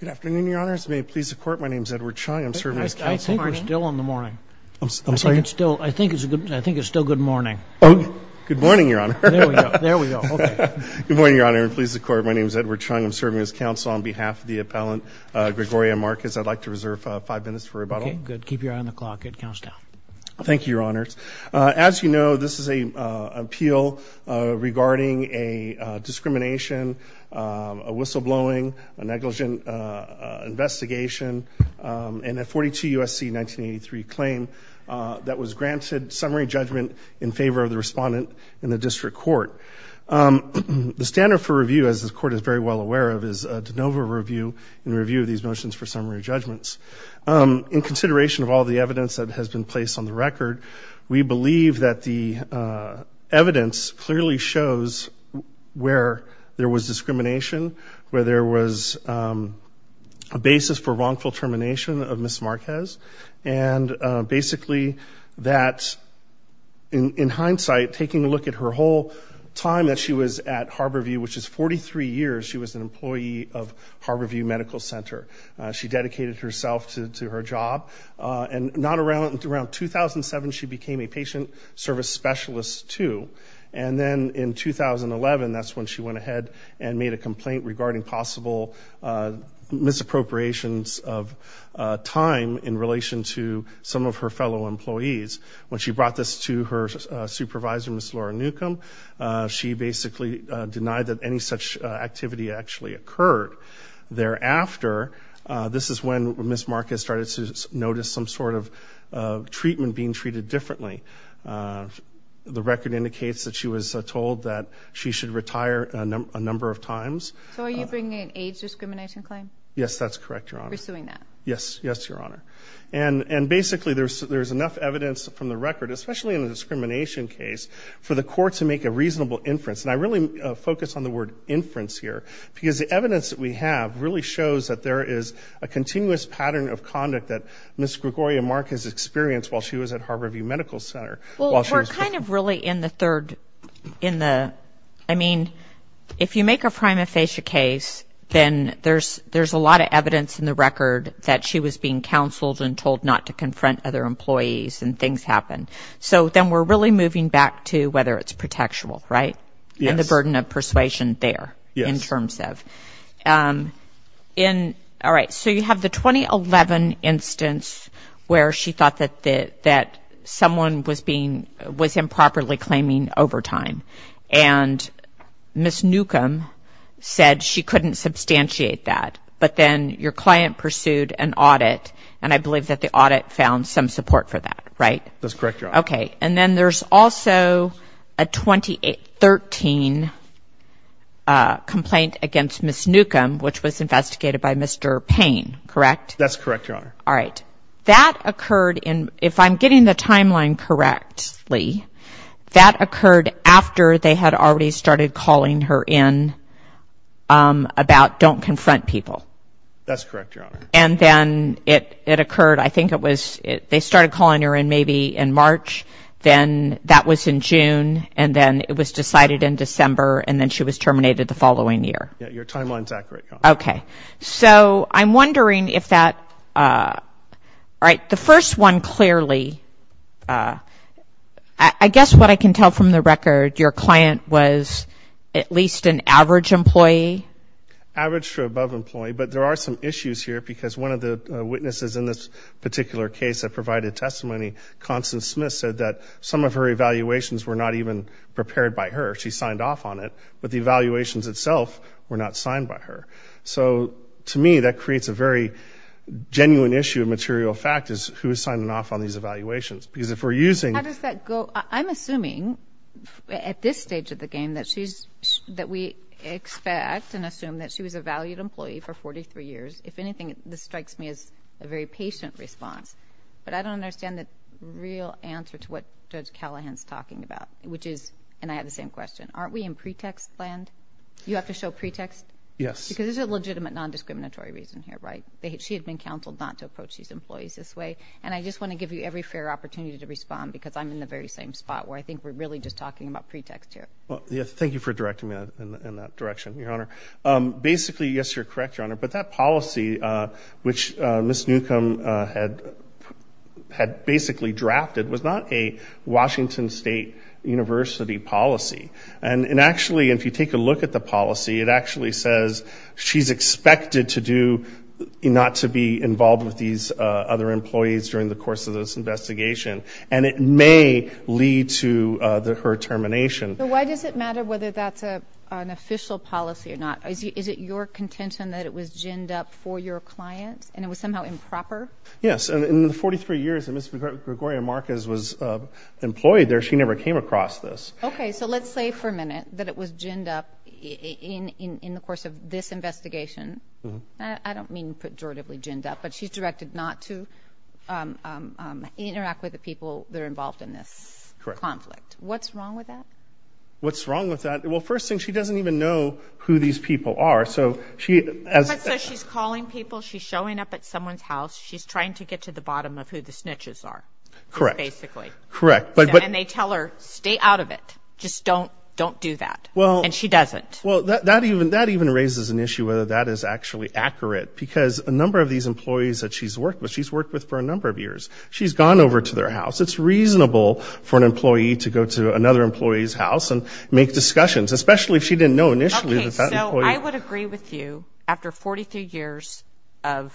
Good afternoon, Your Honors. May it please the Court, my name is Edward Chung. I'm serving as counsel. I think we're still in the morning. I think it's still good morning. Oh, good morning, Your Honor. There we go. Good morning, Your Honor. May it please the Court, my name is Edward Chung. I'm serving as counsel on behalf of the appellant Gregoria Marquez. I'd like to reserve five minutes for rebuttal. Okay, good. Keep your eye on the clock. It counts down. Thank you, Your Honors. As you know, this is an appeal regarding a discrimination, a whistleblowing, a negligent investigation, and a 42 U.S.C. 1983 claim that was granted summary judgment in favor of the respondent in the district court. The standard for review, as the Court is very well aware of, is a de novo review in review of these motions for summary judgments. In consideration of all the evidence that has been placed on the record, we believe that the evidence clearly shows where there was discrimination, where there was a basis for wrongful termination of Ms. Marquez, and basically that in hindsight, taking a look at her whole time that she was at Harborview, which is 43 years she was an employee of Harborview Medical Center, she dedicated herself to her job. And around 2007, she became a patient service specialist, too. And then in 2011, that's when she went ahead and made a complaint regarding possible misappropriations of time in relation to some of her fellow employees. When she brought this to her supervisor, Ms. Laura Newcomb, she basically denied that any such activity actually occurred. Thereafter, this is when Ms. Marquez started to notice some sort of treatment being treated differently. The record indicates that she was told that she should retire a number of times. So are you bringing an age discrimination claim? Yes, that's correct, Your Honor. Pursuing that? Yes, Your Honor. And basically, there's enough evidence from the record, especially in the discrimination case, for the court to make a reasonable inference. And I really focus on the word inference here because the evidence that we have really shows that there is a continuous pattern of conduct that Ms. Gregoria Marquez experienced while she was at Harborview Medical Center. Well, we're kind of really in the third, in the, I mean, if you make a prima facie case, then there's a lot of evidence in the record that she was being counseled and told not to confront other employees and things happen. So then we're really moving back to whether it's protectual, right? Yes. And the burden of persuasion there. Yes. In, all right, so you have the 2011 instance where she thought that someone was being, was improperly claiming overtime. And Ms. Newcomb said she couldn't substantiate that. But then your client pursued an audit, and I believe that the audit found some support for that, right? That's correct, Your Honor. Okay. And then there's also a 2013 complaint against Ms. Newcomb, which was investigated by Mr. Payne, correct? That's correct, Your Honor. All right. That occurred in, if I'm getting the timeline correctly, that occurred after they had already started calling her in about don't confront people. That's correct, Your Honor. And then it occurred, I think it was, they started calling her in maybe in March, then that was in June, and then it was decided in December, and then she was terminated the following year. Yes, your timeline is accurate, Your Honor. Okay. So I'm wondering if that, all right, the first one clearly, I guess what I can tell from the record, your client was at least an average employee? Average to above employee. But there are some issues here because one of the witnesses in this particular case that provided testimony, Constance Smith, said that some of her evaluations were not even prepared by her. She signed off on it. But the evaluations itself were not signed by her. So to me, that creates a very genuine issue of material fact is who is signing off on these evaluations. Because if we're using How does that go? I'm assuming at this stage of the game that we expect and assume that she was a valued employee for 43 years. If anything, this strikes me as a very patient response. But I don't understand the real answer to what Judge Callahan is talking about, which is, and I have the same question, aren't we in pretext land? You have to show pretext? Yes. Because there's a legitimate non-discriminatory reason here, right? She had been counseled not to approach these employees this way. And I just want to give you every fair opportunity to respond because I'm in the very same spot where I think we're really just talking about pretext here. Thank you for directing me in that direction, Your Honor. Basically, yes, you're correct, Your Honor. But that policy, which Ms. Newcomb had basically drafted, was not a Washington State University policy. And actually, if you take a look at the policy, it actually says she's expected to do, not to be involved with these other employees during the course of this investigation. And it may lead to her termination. So why does it matter whether that's an official policy or not? Is it your contention that it was ginned up for your client and it was somehow improper? Yes. In the 43 years that Ms. Gregoria Marquez was employed there, she never came across this. Okay. So let's say for a minute that it was ginned up in the course of this investigation. I don't mean pejoratively ginned up, but she's directed not to interact with the people that are involved in this conflict. What's wrong with that? What's wrong with that? Well, first thing, she doesn't even know who these people are. But so she's calling people, she's showing up at someone's house, she's trying to get to the bottom of who the snitches are. Correct. Basically. Correct. And they tell her, stay out of it. Just don't do that. And she doesn't. Well, that even raises an issue whether that is actually accurate because a number of these employees that she's worked with, she's worked with for a number of years, she's gone over to their house. It's reasonable for an employee to go to another employee's house and make discussions, especially if she didn't know initially that that employee. Okay. So I would agree with you after 43 years of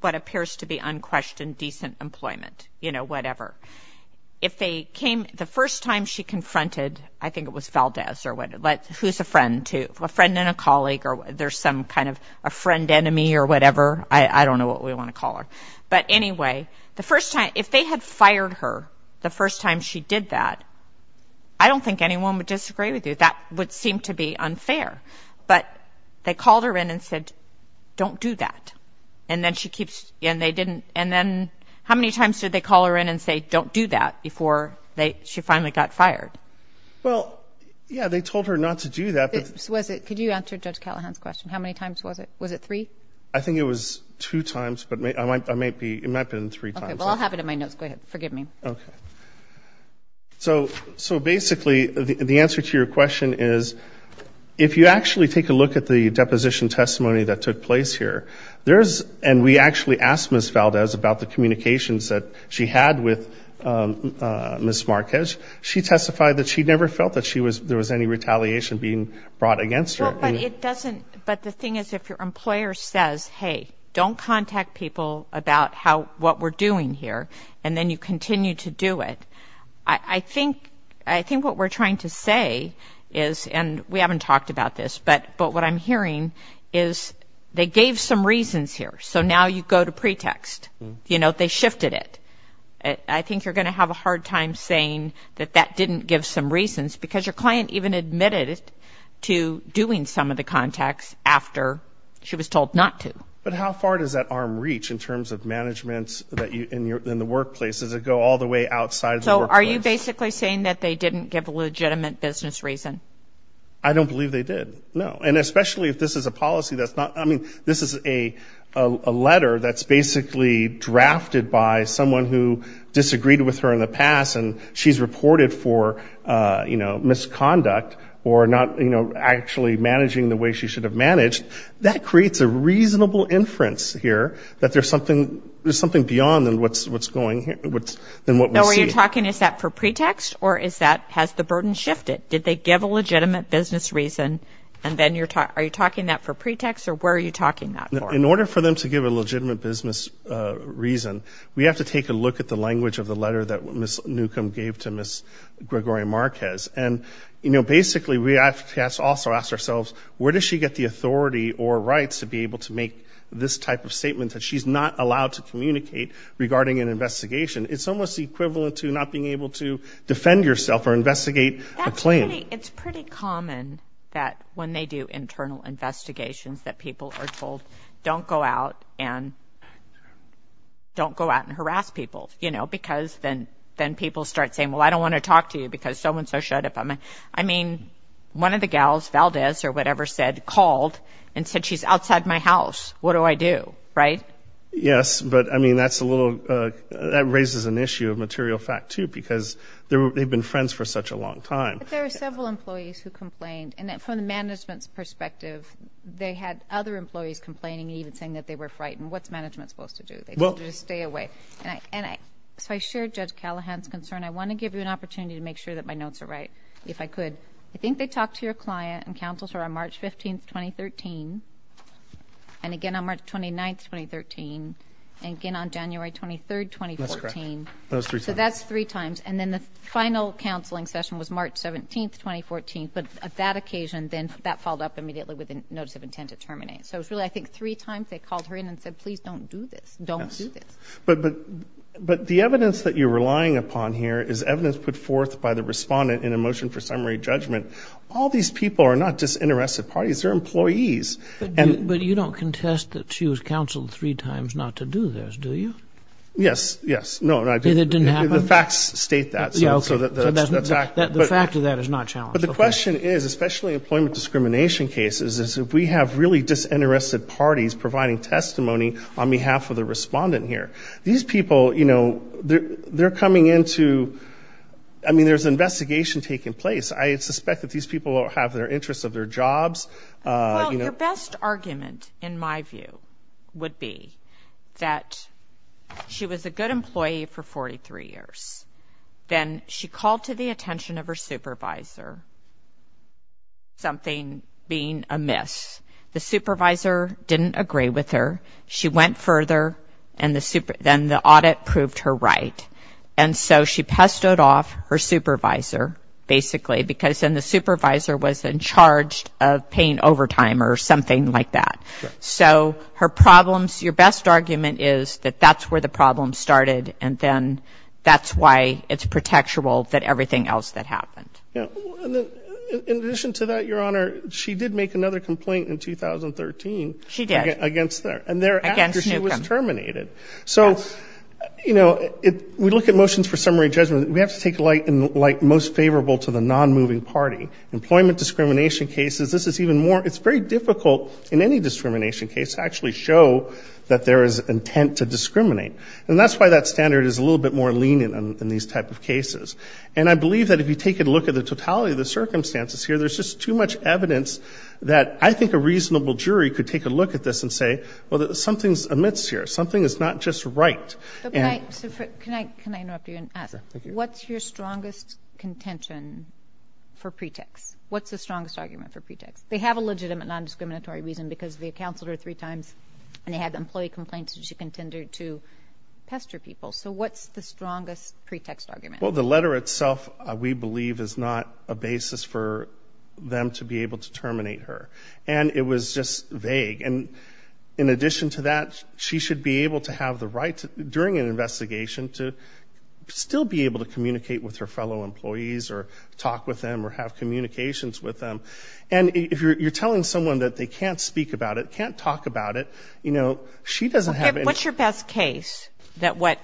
what appears to be unquestioned decent employment, you know, whatever. If they came, the first time she confronted, I think it was Valdez or what, who's a friend to, a friend and a colleague, or there's some kind of a friend enemy or whatever. I don't know what we want to call her. But anyway, the first time, if they had fired her the first time she did that, I don't think anyone would disagree with you. That would seem to be unfair. But they called her in and said, don't do that. And then she keeps, and they didn't, and then how many times did they call her in and say, don't do that before she finally got fired? Well, yeah, they told her not to do that. Could you answer Judge Callahan's question? How many times was it? Was it three? I think it was two times, but it might have been three times. Okay, well, I'll have it in my notes. Go ahead. Forgive me. Okay. So basically the answer to your question is if you actually take a look at the deposition testimony that took place here, and we actually asked Ms. Valdez about the communications that she had with Ms. Marquez, she testified that she never felt that there was any retaliation being brought against her. But the thing is if your employer says, hey, don't contact people about what we're doing here, and then you continue to do it, I think what we're trying to say is, and we haven't talked about this, but what I'm hearing is they gave some reasons here. So now you go to pretext. You know, they shifted it. I think you're going to have a hard time saying that that didn't give some reasons, because your client even admitted to doing some of the contacts after she was told not to. But how far does that arm reach in terms of management in the workplace? Does it go all the way outside the workplace? So are you basically saying that they didn't give a legitimate business reason? I don't believe they did, no. And especially if this is a policy that's not, I mean, this is a letter that's basically drafted by someone who disagreed with her in the past, and she's reported for, you know, misconduct or not, you know, actually managing the way she should have managed. That creates a reasonable inference here that there's something beyond what's going here, than what we see. So are you talking, is that for pretext, or is that, has the burden shifted? Did they give a legitimate business reason, and then you're talking, are you talking that for pretext, or where are you talking that for? In order for them to give a legitimate business reason, we have to take a look at the language of the letter that Ms. Newcomb gave to Ms. Gregoria Marquez. And, you know, basically we have to also ask ourselves, where does she get the authority or rights to be able to make this type of statement that she's not allowed to communicate regarding an investigation? It's almost equivalent to not being able to defend yourself or investigate a claim. It's pretty common that when they do internal investigations, that people are told don't go out and harass people, you know, because then people start saying, well, I don't want to talk to you because so and so showed up. I mean, one of the gals, Valdez or whatever, called and said she's outside my house. What do I do, right? Yes, but, I mean, that's a little, that raises an issue of material fact, too, because they've been friends for such a long time. But there are several employees who complained. And from the management's perspective, they had other employees complaining, even saying that they were frightened. What's management supposed to do? They told you to stay away. And so I share Judge Callahan's concern. I want to give you an opportunity to make sure that my notes are right, if I could. I think they talked to your client and counseled her on March 15, 2013. And again on March 29, 2013. And again on January 23, 2014. That's correct. So that's three times. And then the final counseling session was March 17, 2014. But at that occasion, then that followed up immediately with a notice of intent to terminate. So it was really, I think, three times they called her in and said, please don't do this. Don't do this. But the evidence that you're relying upon here is evidence put forth by the respondent in a motion for summary judgment. All these people are not just interested parties. They're employees. But you don't contest that she was counseled three times not to do this, do you? Yes. No, I didn't. And it didn't happen? The facts state that. Yeah, okay. So the fact of that is not challenged. But the question is, especially employment discrimination cases, is if we have really disinterested parties providing testimony on behalf of the respondent here. These people, you know, they're coming into, I mean, there's an investigation taking place. I suspect that these people have their interests of their jobs. Well, your best argument, in my view, would be that she was a good employee for 43 years. Then she called to the attention of her supervisor, something being amiss. The supervisor didn't agree with her. She went further, and then the audit proved her right. And so she pestoed off her supervisor, basically, because then the supervisor was in charge of paying overtime or something like that. So her problems, your best argument is that that's where the problem started, and then that's why it's protectural that everything else that happened. In addition to that, Your Honor, she did make another complaint in 2013. She did. Against there. Against Newcomb. And thereafter she was terminated. So, you know, we look at motions for summary judgment. We have to take light and most favorable to the non-moving party. Employment discrimination cases, this is even more. It's very difficult in any discrimination case to actually show that there is intent to discriminate. And that's why that standard is a little bit more lenient in these type of cases. And I believe that if you take a look at the totality of the circumstances here, there's just too much evidence that I think a reasonable jury could take a look at this and say, well, something's amiss here. Something is not just right. Can I interrupt you and ask? What's your strongest contention for pretext? What's the strongest argument for pretext? They have a legitimate non-discriminatory reason because they counseled her three times and they had employee complaints and she contended to pester people. So what's the strongest pretext argument? Well, the letter itself, we believe, is not a basis for them to be able to terminate her. And it was just vague. And in addition to that, she should be able to have the right during an investigation to still be able to communicate with her fellow employees or talk with them or have communications with them. And if you're telling someone that they can't speak about it, can't talk about it, you know, she doesn't have any ---- What's your best case that when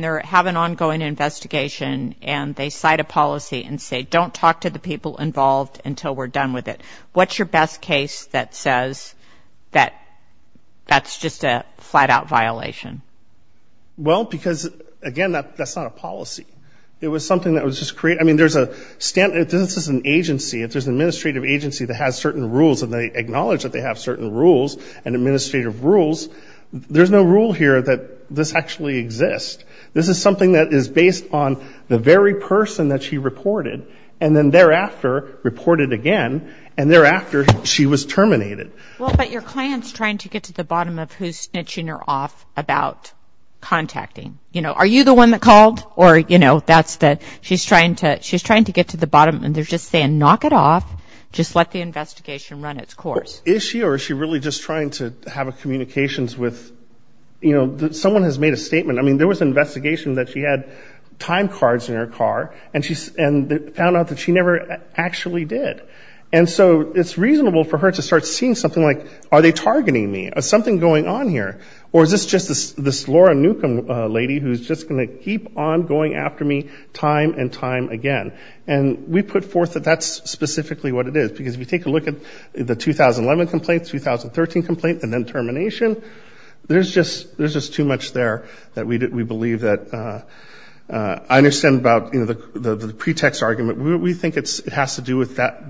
they have an ongoing investigation and they cite a policy and say, don't talk to the people involved until we're done with it, what's your best case that says that that's just a flat-out violation? Well, because, again, that's not a policy. It was something that was just created. I mean, there's a ---- this is an agency. If there's an administrative agency that has certain rules and they acknowledge that they have certain rules and administrative rules, there's no rule here that this actually exists. This is something that is based on the very person that she reported and then thereafter reported again and thereafter she was terminated. Well, but your client's trying to get to the bottom of who's snitching her off about contacting. You know, are you the one that called or, you know, that's the ---- she's trying to get to the bottom and they're just saying, knock it off, just let the investigation run its course. Is she or is she really just trying to have a communications with, you know, someone has made a statement. I mean, there was an investigation that she had time cards in her car and found out that she never actually did. And so it's reasonable for her to start seeing something like, are they targeting me, is something going on here, or is this just this Laura Newcomb lady who's just going to keep on going after me time and time again. And we put forth that that's specifically what it is because if you take a look at the 2011 complaint, 2013 complaint, and then termination, there's just too much there that we believe that ---- the pretext argument, we think it has to do with that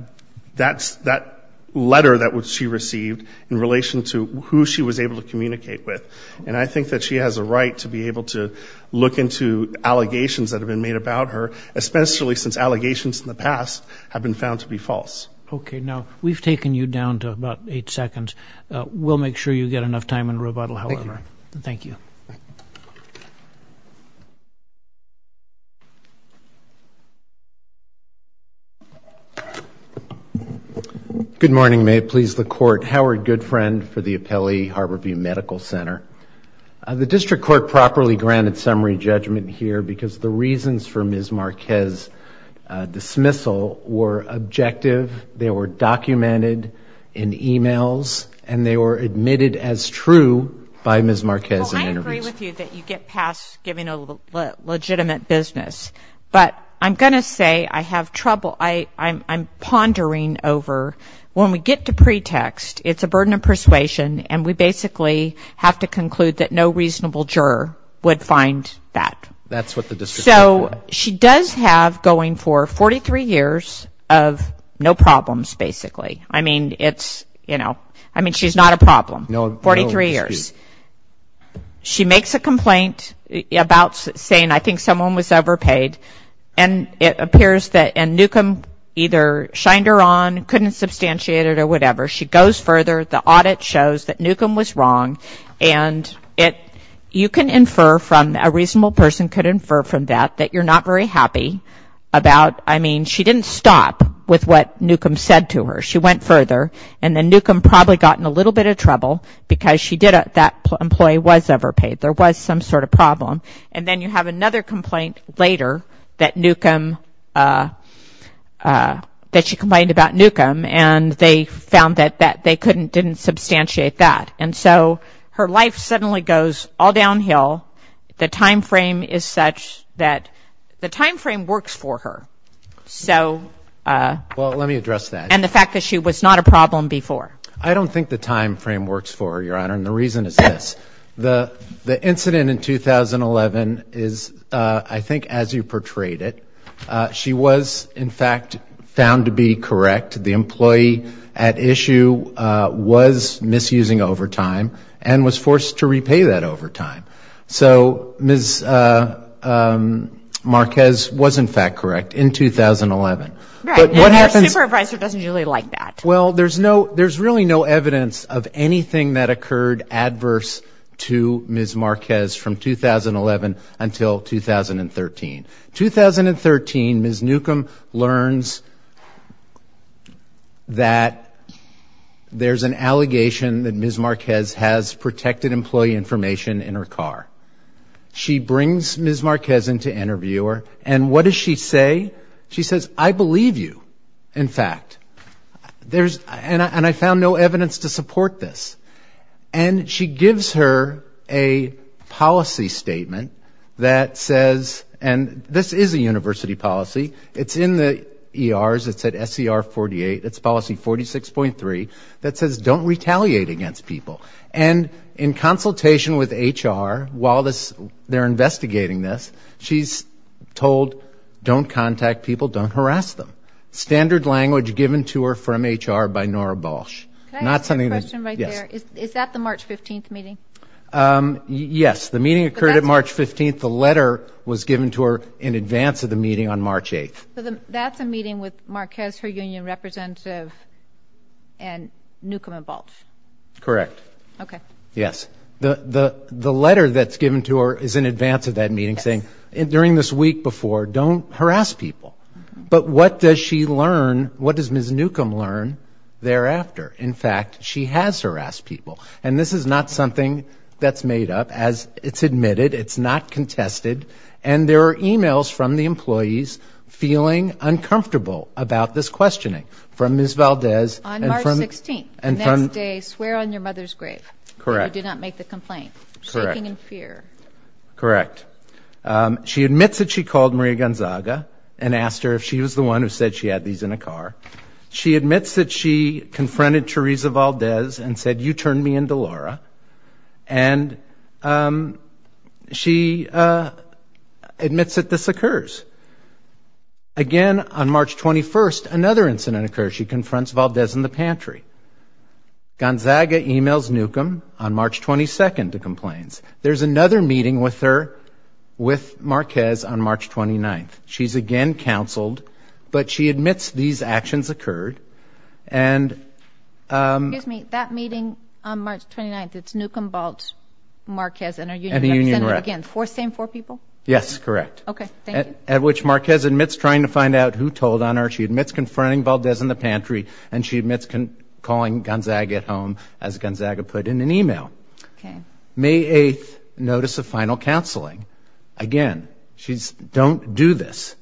letter that she received in relation to who she was able to communicate with. And I think that she has a right to be able to look into allegations that have been made about her, especially since allegations in the past have been found to be false. Okay. Now, we've taken you down to about eight seconds. We'll make sure you get enough time in rebuttal, however. Thank you. Thank you. Good morning. May it please the Court. Howard Goodfriend for the Appellee Harborview Medical Center. The district court properly granted summary judgment here because the reasons for Ms. Marquez's dismissal were objective, they were documented in emails, and they were admitted as true by Ms. Marquez in interviews. Well, I agree with you that you get past giving a legitimate business. But I'm going to say I have trouble ---- I'm pondering over when we get to pretext, it's a burden of persuasion, and we basically have to conclude that no reasonable juror would find that. That's what the district court did. So she does have going for 43 years of no problems, basically. I mean, it's, you know, I mean, she's not a problem. No. 43 years. She makes a complaint about saying I think someone was overpaid, and it appears that Newcomb either shined her on, couldn't substantiate it or whatever. She goes further. The audit shows that Newcomb was wrong, and you can infer from, a reasonable person could infer from that that you're not very happy about, I mean, she didn't stop with what Newcomb said to her. She went further, and then Newcomb probably got in a little bit of trouble because she did, that employee was overpaid. There was some sort of problem. And then you have another complaint later that Newcomb, that she complained about Newcomb, and they found that they couldn't, didn't substantiate that. And so her life suddenly goes all downhill. The time frame is such that the time frame works for her. So ---- Well, let me address that. And the fact that she was not a problem before. I don't think the time frame works for her, Your Honor, and the reason is this. The incident in 2011 is, I think as you portrayed it, she was in fact found to be correct. The employee at issue was misusing overtime and was forced to repay that overtime. So Ms. Marquez was in fact correct in 2011. Right. And her supervisor doesn't usually like that. Well, there's really no evidence of anything that occurred adverse to Ms. Marquez from 2011 until 2013. 2013, Ms. Newcomb learns that there's an allegation that Ms. Marquez has protected employee information in her car. She brings Ms. Marquez in to interview her. And what does she say? She says, I believe you, in fact. And I found no evidence to support this. And she gives her a policy statement that says, and this is a university policy. It's in the ERs. It's at SER 48. It's policy 46.3 that says don't retaliate against people. And in consultation with HR, while they're investigating this, she's told don't contact people, don't harass them. Standard language given to her from HR by Nora Balch. Can I ask a question right there? Yes. Is that the March 15th meeting? Yes. The meeting occurred on March 15th. The letter was given to her in advance of the meeting on March 8th. So that's a meeting with Marquez, her union representative, and Newcomb and Balch. Correct. Okay. Yes. The letter that's given to her is in advance of that meeting saying, during this week before, don't harass people. But what does she learn? What does Ms. Newcomb learn thereafter? In fact, she has harassed people. And this is not something that's made up. It's admitted. It's not contested. And there are emails from the employees feeling uncomfortable about this questioning from Ms. Valdez. On March 16th, the next day, swear on your mother's grave that you did not make the complaint. Correct. Shaking in fear. Correct. She admits that she called Maria Gonzaga and asked her if she was the one who said she had these in a car. She admits that she confronted Teresa Valdez and said, you turned me into Laura. And she admits that this occurs. Again, on March 21st, another incident occurs. She confronts Valdez in the pantry. Gonzaga emails Newcomb on March 22nd to complaints. There's another meeting with her with Marquez on March 29th. She's again counseled, but she admits these actions occurred. Excuse me. That meeting on March 29th, it's Newcomb, Baltz, Marquez and her union representative again. The same four people? Yes, correct. Okay. Thank you. At which Marquez admits trying to find out who told on her. She admits confronting Valdez in the pantry. And she admits calling Gonzaga at home, as Gonzaga put in an email. May 8th, notice of final counseling. Again, she's, don't do this.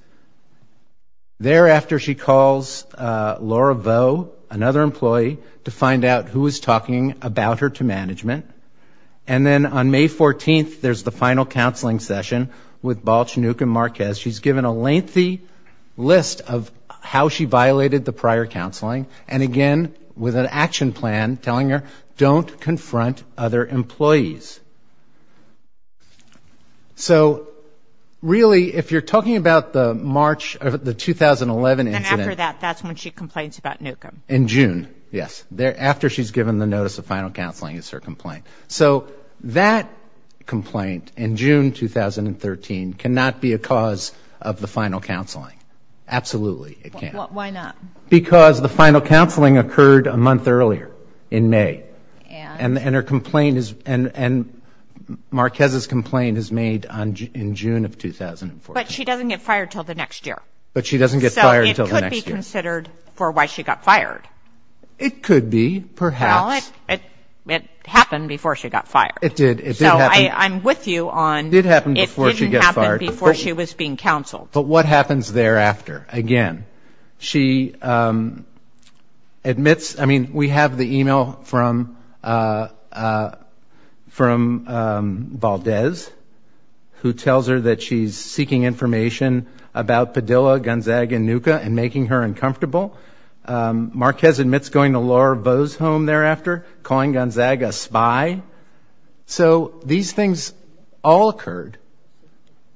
Thereafter, she calls Laura Vo, another employee, to find out who was talking about her to management. And then on May 14th, there's the final counseling session with Baltz, Newcomb, Marquez. She's given a lengthy list of how she violated the prior counseling. And again, with an action plan telling her, don't confront other employees. So really, if you're talking about the March, the 2011 incident. And after that, that's when she complains about Newcomb. In June, yes. After she's given the notice of final counseling is her complaint. So that complaint in June 2013 cannot be a cause of the final counseling. Absolutely, it can't. Why not? Because the final counseling occurred a month earlier in May. And? And her complaint is, and Marquez's complaint is made in June of 2014. But she doesn't get fired until the next year. But she doesn't get fired until the next year. So it could be considered for why she got fired. It could be, perhaps. Well, it happened before she got fired. It did. So I'm with you on. It did happen before she got fired. It didn't happen before she was being counseled. But what happens thereafter? Again, she admits, I mean, we have the e-mail from Baldez, who tells her that she's seeking information about Padilla, Gunzag, and NUCCA and making her uncomfortable. Marquez admits going to Laura Vaux's home thereafter, calling Gunzag a spy. So these things all occurred.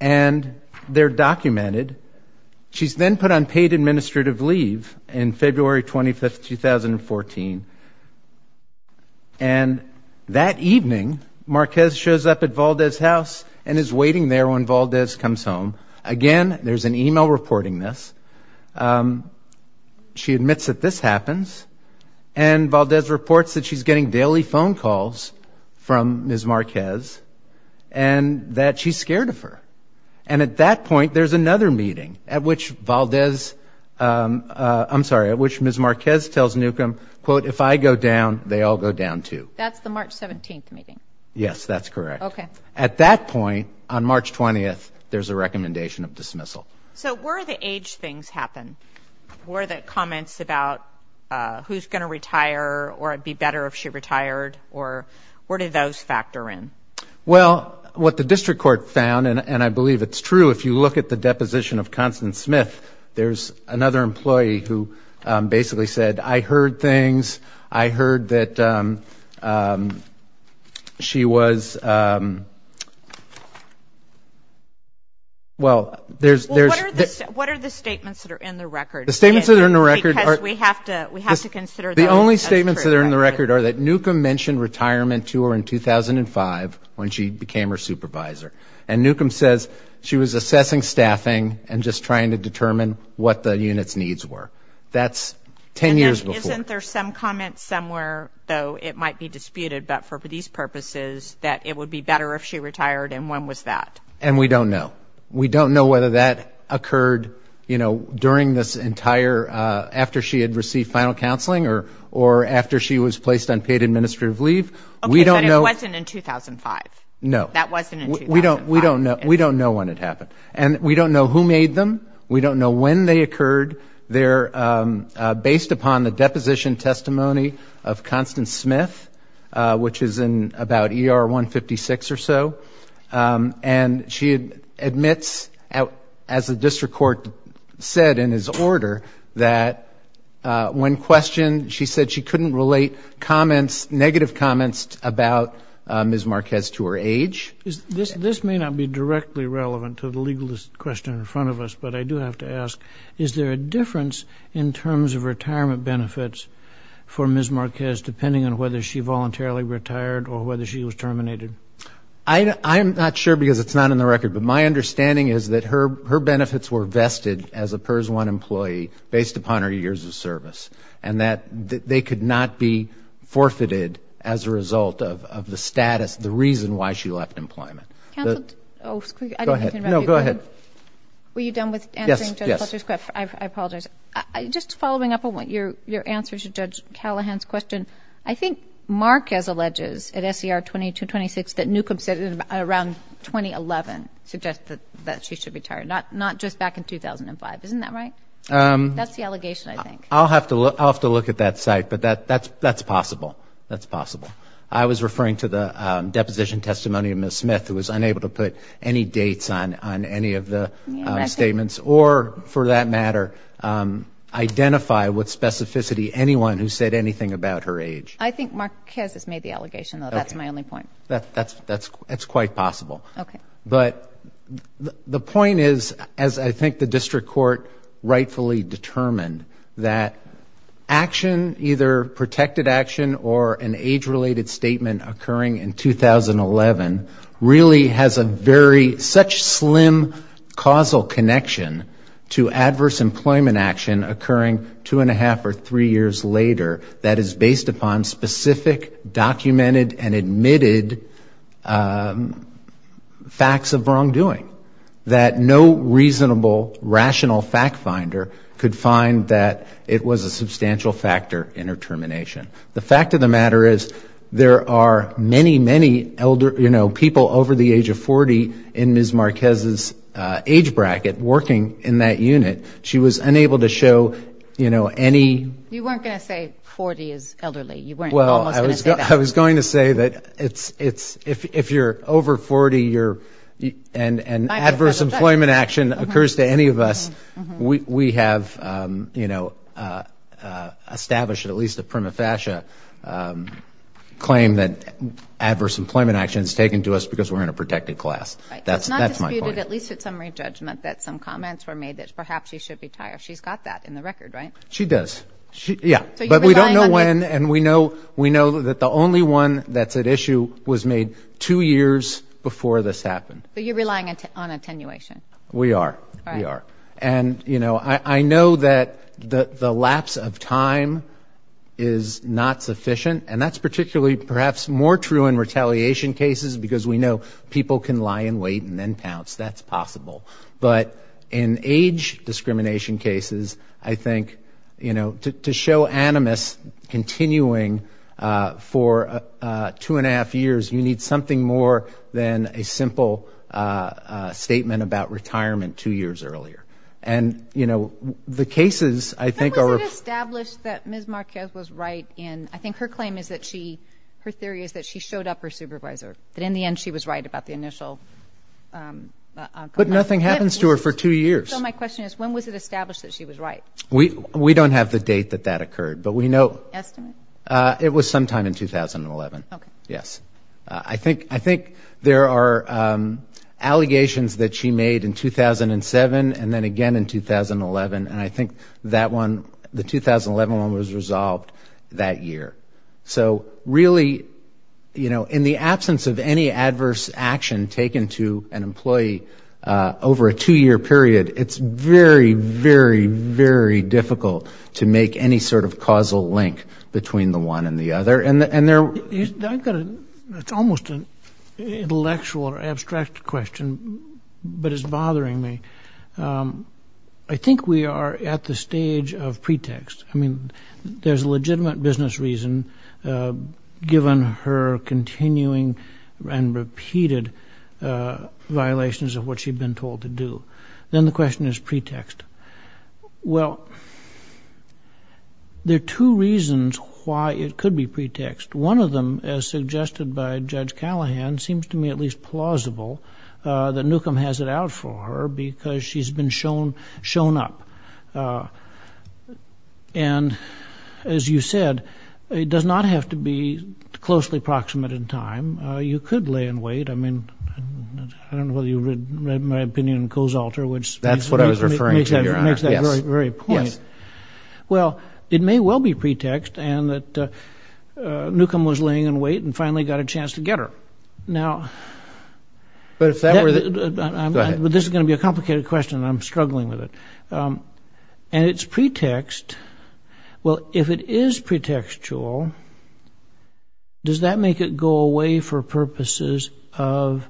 And they're documented. She's then put on paid administrative leave in February 25, 2014. And that evening, Marquez shows up at Baldez's house and is waiting there when Baldez comes home. Again, there's an e-mail reporting this. She admits that this happens. And Baldez reports that she's getting daily phone calls from Ms. Marquez and that she's scared of her. And at that point, there's another meeting at which Baldez, I'm sorry, at which Ms. Marquez tells NUCCA, quote, if I go down, they all go down too. That's the March 17th meeting. Yes, that's correct. Okay. And at that point, on March 20th, there's a recommendation of dismissal. So were the age things happen? Were the comments about who's going to retire or it would be better if she retired or where did those factor in? Well, what the district court found, and I believe it's true, if you look at the deposition of Constance Smith, there's another employee who basically said, I heard things. I heard that she was, well, there's. Well, what are the statements that are in the record? The statements that are in the record are. Because we have to consider. The only statements that are in the record are that NUCCA mentioned retirement to her in 2005 when she became her supervisor. And NUCCA says she was assessing staffing and just trying to determine what the unit's needs were. That's 10 years before. Isn't there some comment somewhere, though it might be disputed, but for these purposes that it would be better if she retired and when was that? And we don't know. We don't know whether that occurred, you know, during this entire, after she had received final counseling or after she was placed on paid administrative leave. Okay, but it wasn't in 2005. No. That wasn't in 2005. We don't know when it happened. And we don't know who made them. We don't know when they occurred. They're based upon the deposition testimony of Constance Smith, which is in about ER 156 or so. And she admits, as the district court said in his order, that when questioned, she said she couldn't relate negative comments about Ms. Marquez to her age. This may not be directly relevant to the legal question in front of us, but I do have to ask, is there a difference in terms of retirement benefits for Ms. Marquez depending on whether she voluntarily retired or whether she was terminated? I'm not sure because it's not in the record, but my understanding is that her benefits were vested as a PERS 1 employee based upon her years of service, and that they could not be forfeited as a result of the status, the reason why she left employment. Counsel, I didn't mean to interrupt you. Go ahead. Were you done with answering Judge Fletcher's question? Yes. I apologize. Just following up on your answer to Judge Callahan's question, I think Marquez alleges at SCR 2226 that Newcomb said it around 2011, suggested that she should retire, not just back in 2005. Isn't that right? That's the allegation, I think. I'll have to look at that site, but that's possible. That's possible. I was referring to the deposition testimony of Ms. Smith, who was unable to put any dates on any of the statements, or, for that matter, identify with specificity anyone who said anything about her age. I think Marquez has made the allegation, though. That's my only point. That's quite possible. Okay. But the point is, as I think the district court rightfully determined, that action, either protected action or an age-related statement occurring in 2011, really has a very, such slim causal connection to adverse employment action occurring two and a half or three years later that is based upon specific documented and admitted facts of wrongdoing. That no reasonable, rational fact finder could find that it was a substantial factor in her termination. The fact of the matter is, there are many, many people over the age of 40 in Ms. Marquez's age bracket working in that unit. She was unable to show any... You weren't going to say 40 is elderly. I was going to say that if you're over 40 and adverse employment action occurs to any of us, we have, you know, established at least a prima facie claim that adverse employment action is taken to us because we're in a protected class. That's my point. Right. It's not disputed, at least at summary judgment, that some comments were made that perhaps she should retire. She's got that in the record, right? She does. Yeah. But we don't know when, and we know that the only one that's at issue was made two years before this happened. But you're relying on attenuation. We are. We are. And, you know, I know that the lapse of time is not sufficient, and that's particularly perhaps more true in retaliation cases, because we know people can lie in wait and then pounce. That's possible. But in age discrimination cases, I think, you know, to show animus continuing for two and a half years, you need something more than a simple statement about retirement two years earlier. And, you know, the cases, I think, are of... When was it established that Ms. Marquez was right in, I think her claim is that she, her theory is that she showed up her supervisor, that in the end she was right about the initial... But nothing happens to her for two years. So my question is, when was it established that she was right? We don't have the date that that occurred, but we know... Estimate? It was sometime in 2011. Okay. Yes. I think there are allegations that she made in 2007 and then again in 2011, and I think that one, the 2011 one was resolved that year. So really, you know, in the absence of any adverse action taken to an employee over a two-year period, it's very, very, very difficult to make any sort of causal link between the one and the other. I've got a... It's almost an intellectual or abstract question, but it's bothering me. I think we are at the stage of pretext. I mean, there's a legitimate business reason, given her continuing and repeated violations of what she'd been told to do. Then the question is pretext. Well, there are two reasons why it could be pretext. One of them, as suggested by Judge Callahan, seems to me at least plausible, that Newcomb has it out for her because she's been shown up. And as you said, it does not have to be closely proximate in time. You could lay in wait. I mean, I don't know whether you read my opinion in Coe's Altar, which... It makes that very, very point. Well, it may well be pretext, and that Newcomb was laying in wait and finally got a chance to get her. But this is going to be a complicated question, and I'm struggling with it. And it's pretext. Well, if it is pretextual, does that make it go away for purposes of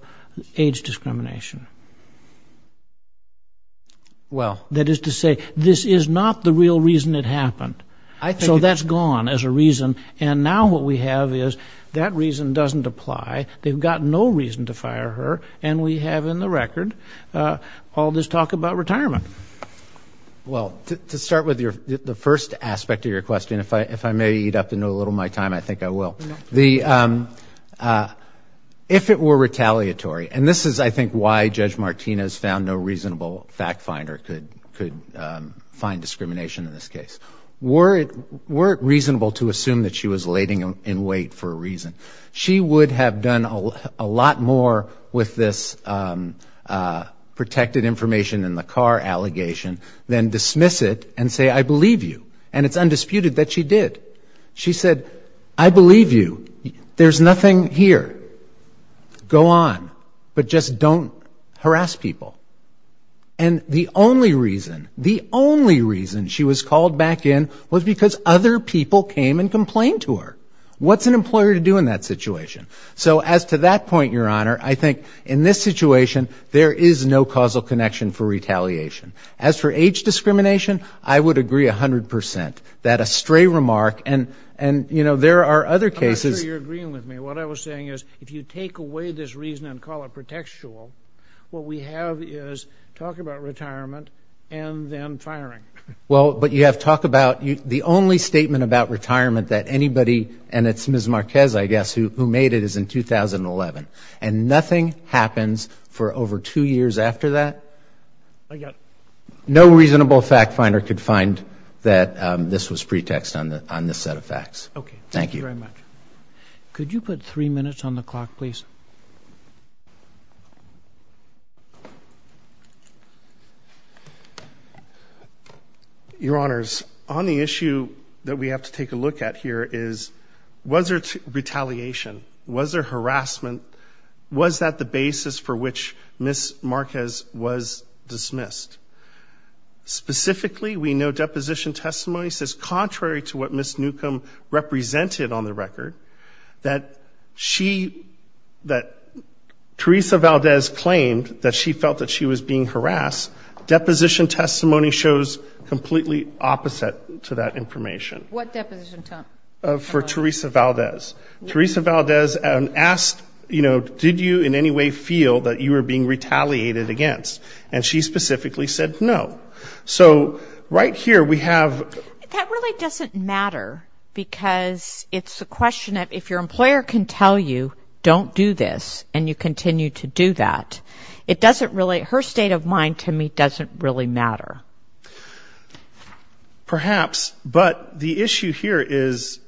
age discrimination? Well... That is to say, this is not the real reason it happened. So that's gone as a reason. And now what we have is that reason doesn't apply. They've got no reason to fire her, and we have in the record all this talk about retirement. Well, to start with the first aspect of your question, if I may eat up and know a little of my time, I think I will. If it were retaliatory, and this is, I think, why Judge Martinez found no reasonable fact finder could find discrimination in this case. Were it reasonable to assume that she was laying in wait for a reason? She would have done a lot more with this protected information in the car allegation than dismiss it and say, I believe you. And it's undisputed that she did. She said, I believe you. There's nothing here. Go on, but just don't harass people. And the only reason, the only reason she was called back in was because other people came and complained to her. What's an employer to do in that situation? So as to that point, Your Honor, I think in this situation, there is no causal connection for retaliation. As for age discrimination, I would agree 100%. That astray remark and, you know, there are other cases. I'm sure you're agreeing with me. What I was saying is if you take away this reason and call it pretextual, what we have is talk about retirement and then firing. Well, but you have talk about the only statement about retirement that anybody, and it's Ms. Marquez, I guess, who made it, is in 2011. And nothing happens for over two years after that? I got it. No reasonable fact finder could find that this was pretext on this set of facts. Okay. Thank you very much. Could you put three minutes on the clock, please? Your Honors, on the issue that we have to take a look at here is was there retaliation? Was there harassment? Was that the basis for which Ms. Marquez was dismissed? Specifically, we know deposition testimony says contrary to what Ms. Newcomb represented on the record, that she, that Teresa Valdez claimed that she felt that she was being harassed. Deposition testimony shows completely opposite to that information. What deposition testimony? For Teresa Valdez. Teresa Valdez asked, you know, did you in any way feel that you were being retaliated against? And she specifically said no. So right here, we have. That really doesn't matter because it's a question of if your employer can tell you don't do this and you continue to do that, it doesn't really, her state of mind to me doesn't really matter. Perhaps. But the issue here is,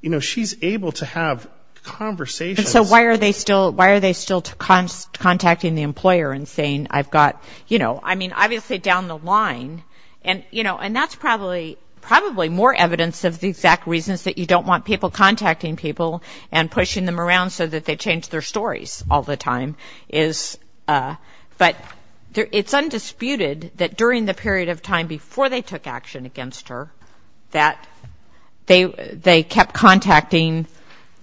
you know, she's able to have conversations. And so why are they still contacting the employer and saying I've got, you know, I mean, obviously down the line, and, you know, and that's probably more evidence of the exact reasons that you don't want people contacting people and pushing them around so that they change their stories all the time is, but it's undisputed that during the period of time before they took action against her, that they kept contacting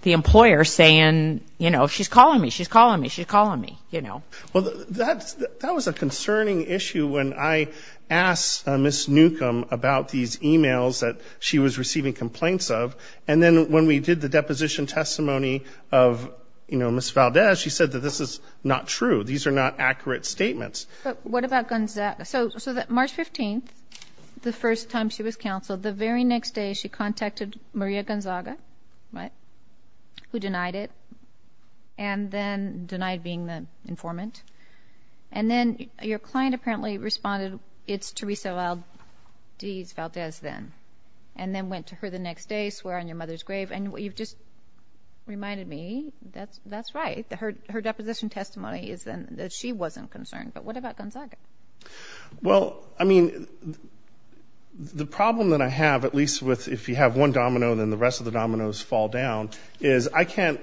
the employer saying, you know, she's calling me, she's calling me, she's calling me, you know. Well, that was a concerning issue when I asked Ms. Newcomb about these e-mails that she was receiving complaints of. And then when we did the deposition testimony of, you know, Ms. Valdez, she said that this is not true, these are not accurate statements. But what about Gonzaga? So March 15th, the first time she was counseled, the very next day she contacted Maria Gonzaga, right, who denied it and then denied being the informant. And then your client apparently responded, it's Teresa Valdez then, and then went to her the next day, swear on your mother's grave, and you've just reminded me that's right. Her deposition testimony is then that she wasn't concerned. But what about Gonzaga? Well, I mean, the problem that I have, at least if you have one domino, then the rest of the dominoes fall down, is I can't,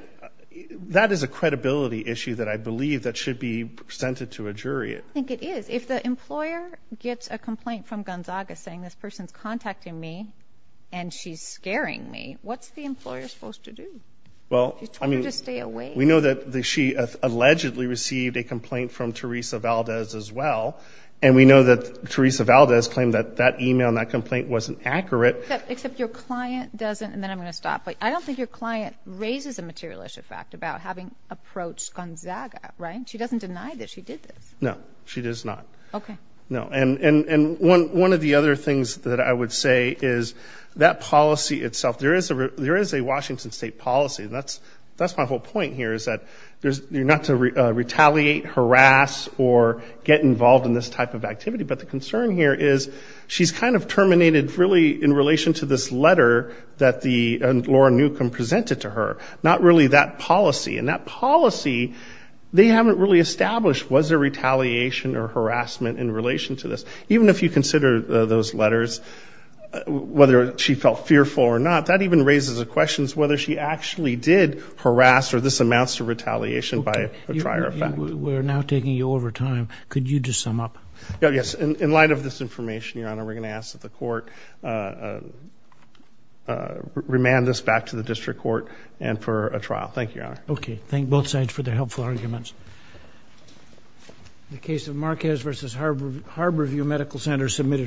that is a credibility issue that I believe that should be presented to a jury. I think it is. If the employer gets a complaint from Gonzaga saying this person's contacting me and she's scaring me, what's the employer supposed to do? She's told her to stay away. We know that she allegedly received a complaint from Teresa Valdez as well, and we know that Teresa Valdez claimed that that email and that complaint wasn't accurate. Except your client doesn't, and then I'm going to stop, but I don't think your client raises a materialistic fact about having approached Gonzaga, right? She doesn't deny that she did this. No, she does not. Okay. No, and one of the other things that I would say is that policy itself, there is a Washington State policy, and that's my whole point here is that you're not to retaliate, harass, or get involved in this type of activity, but the concern here is she's kind of terminated really in relation to this letter that Laura Newcomb presented to her, not really that policy. And that policy, they haven't really established, was there retaliation or harassment in relation to this. Even if you consider those letters, whether she felt fearful or not, that even raises a question as to whether she actually did harass or this amounts to retaliation by a prior effect. We're now taking you over time. Could you just sum up? Yes. In light of this information, Your Honor, we're going to ask that the court remand this back to the district court and for a trial. Thank you, Your Honor. Okay. Thank both sides for their helpful arguments. The case of Marquez v. Harborview Medical Center submitted.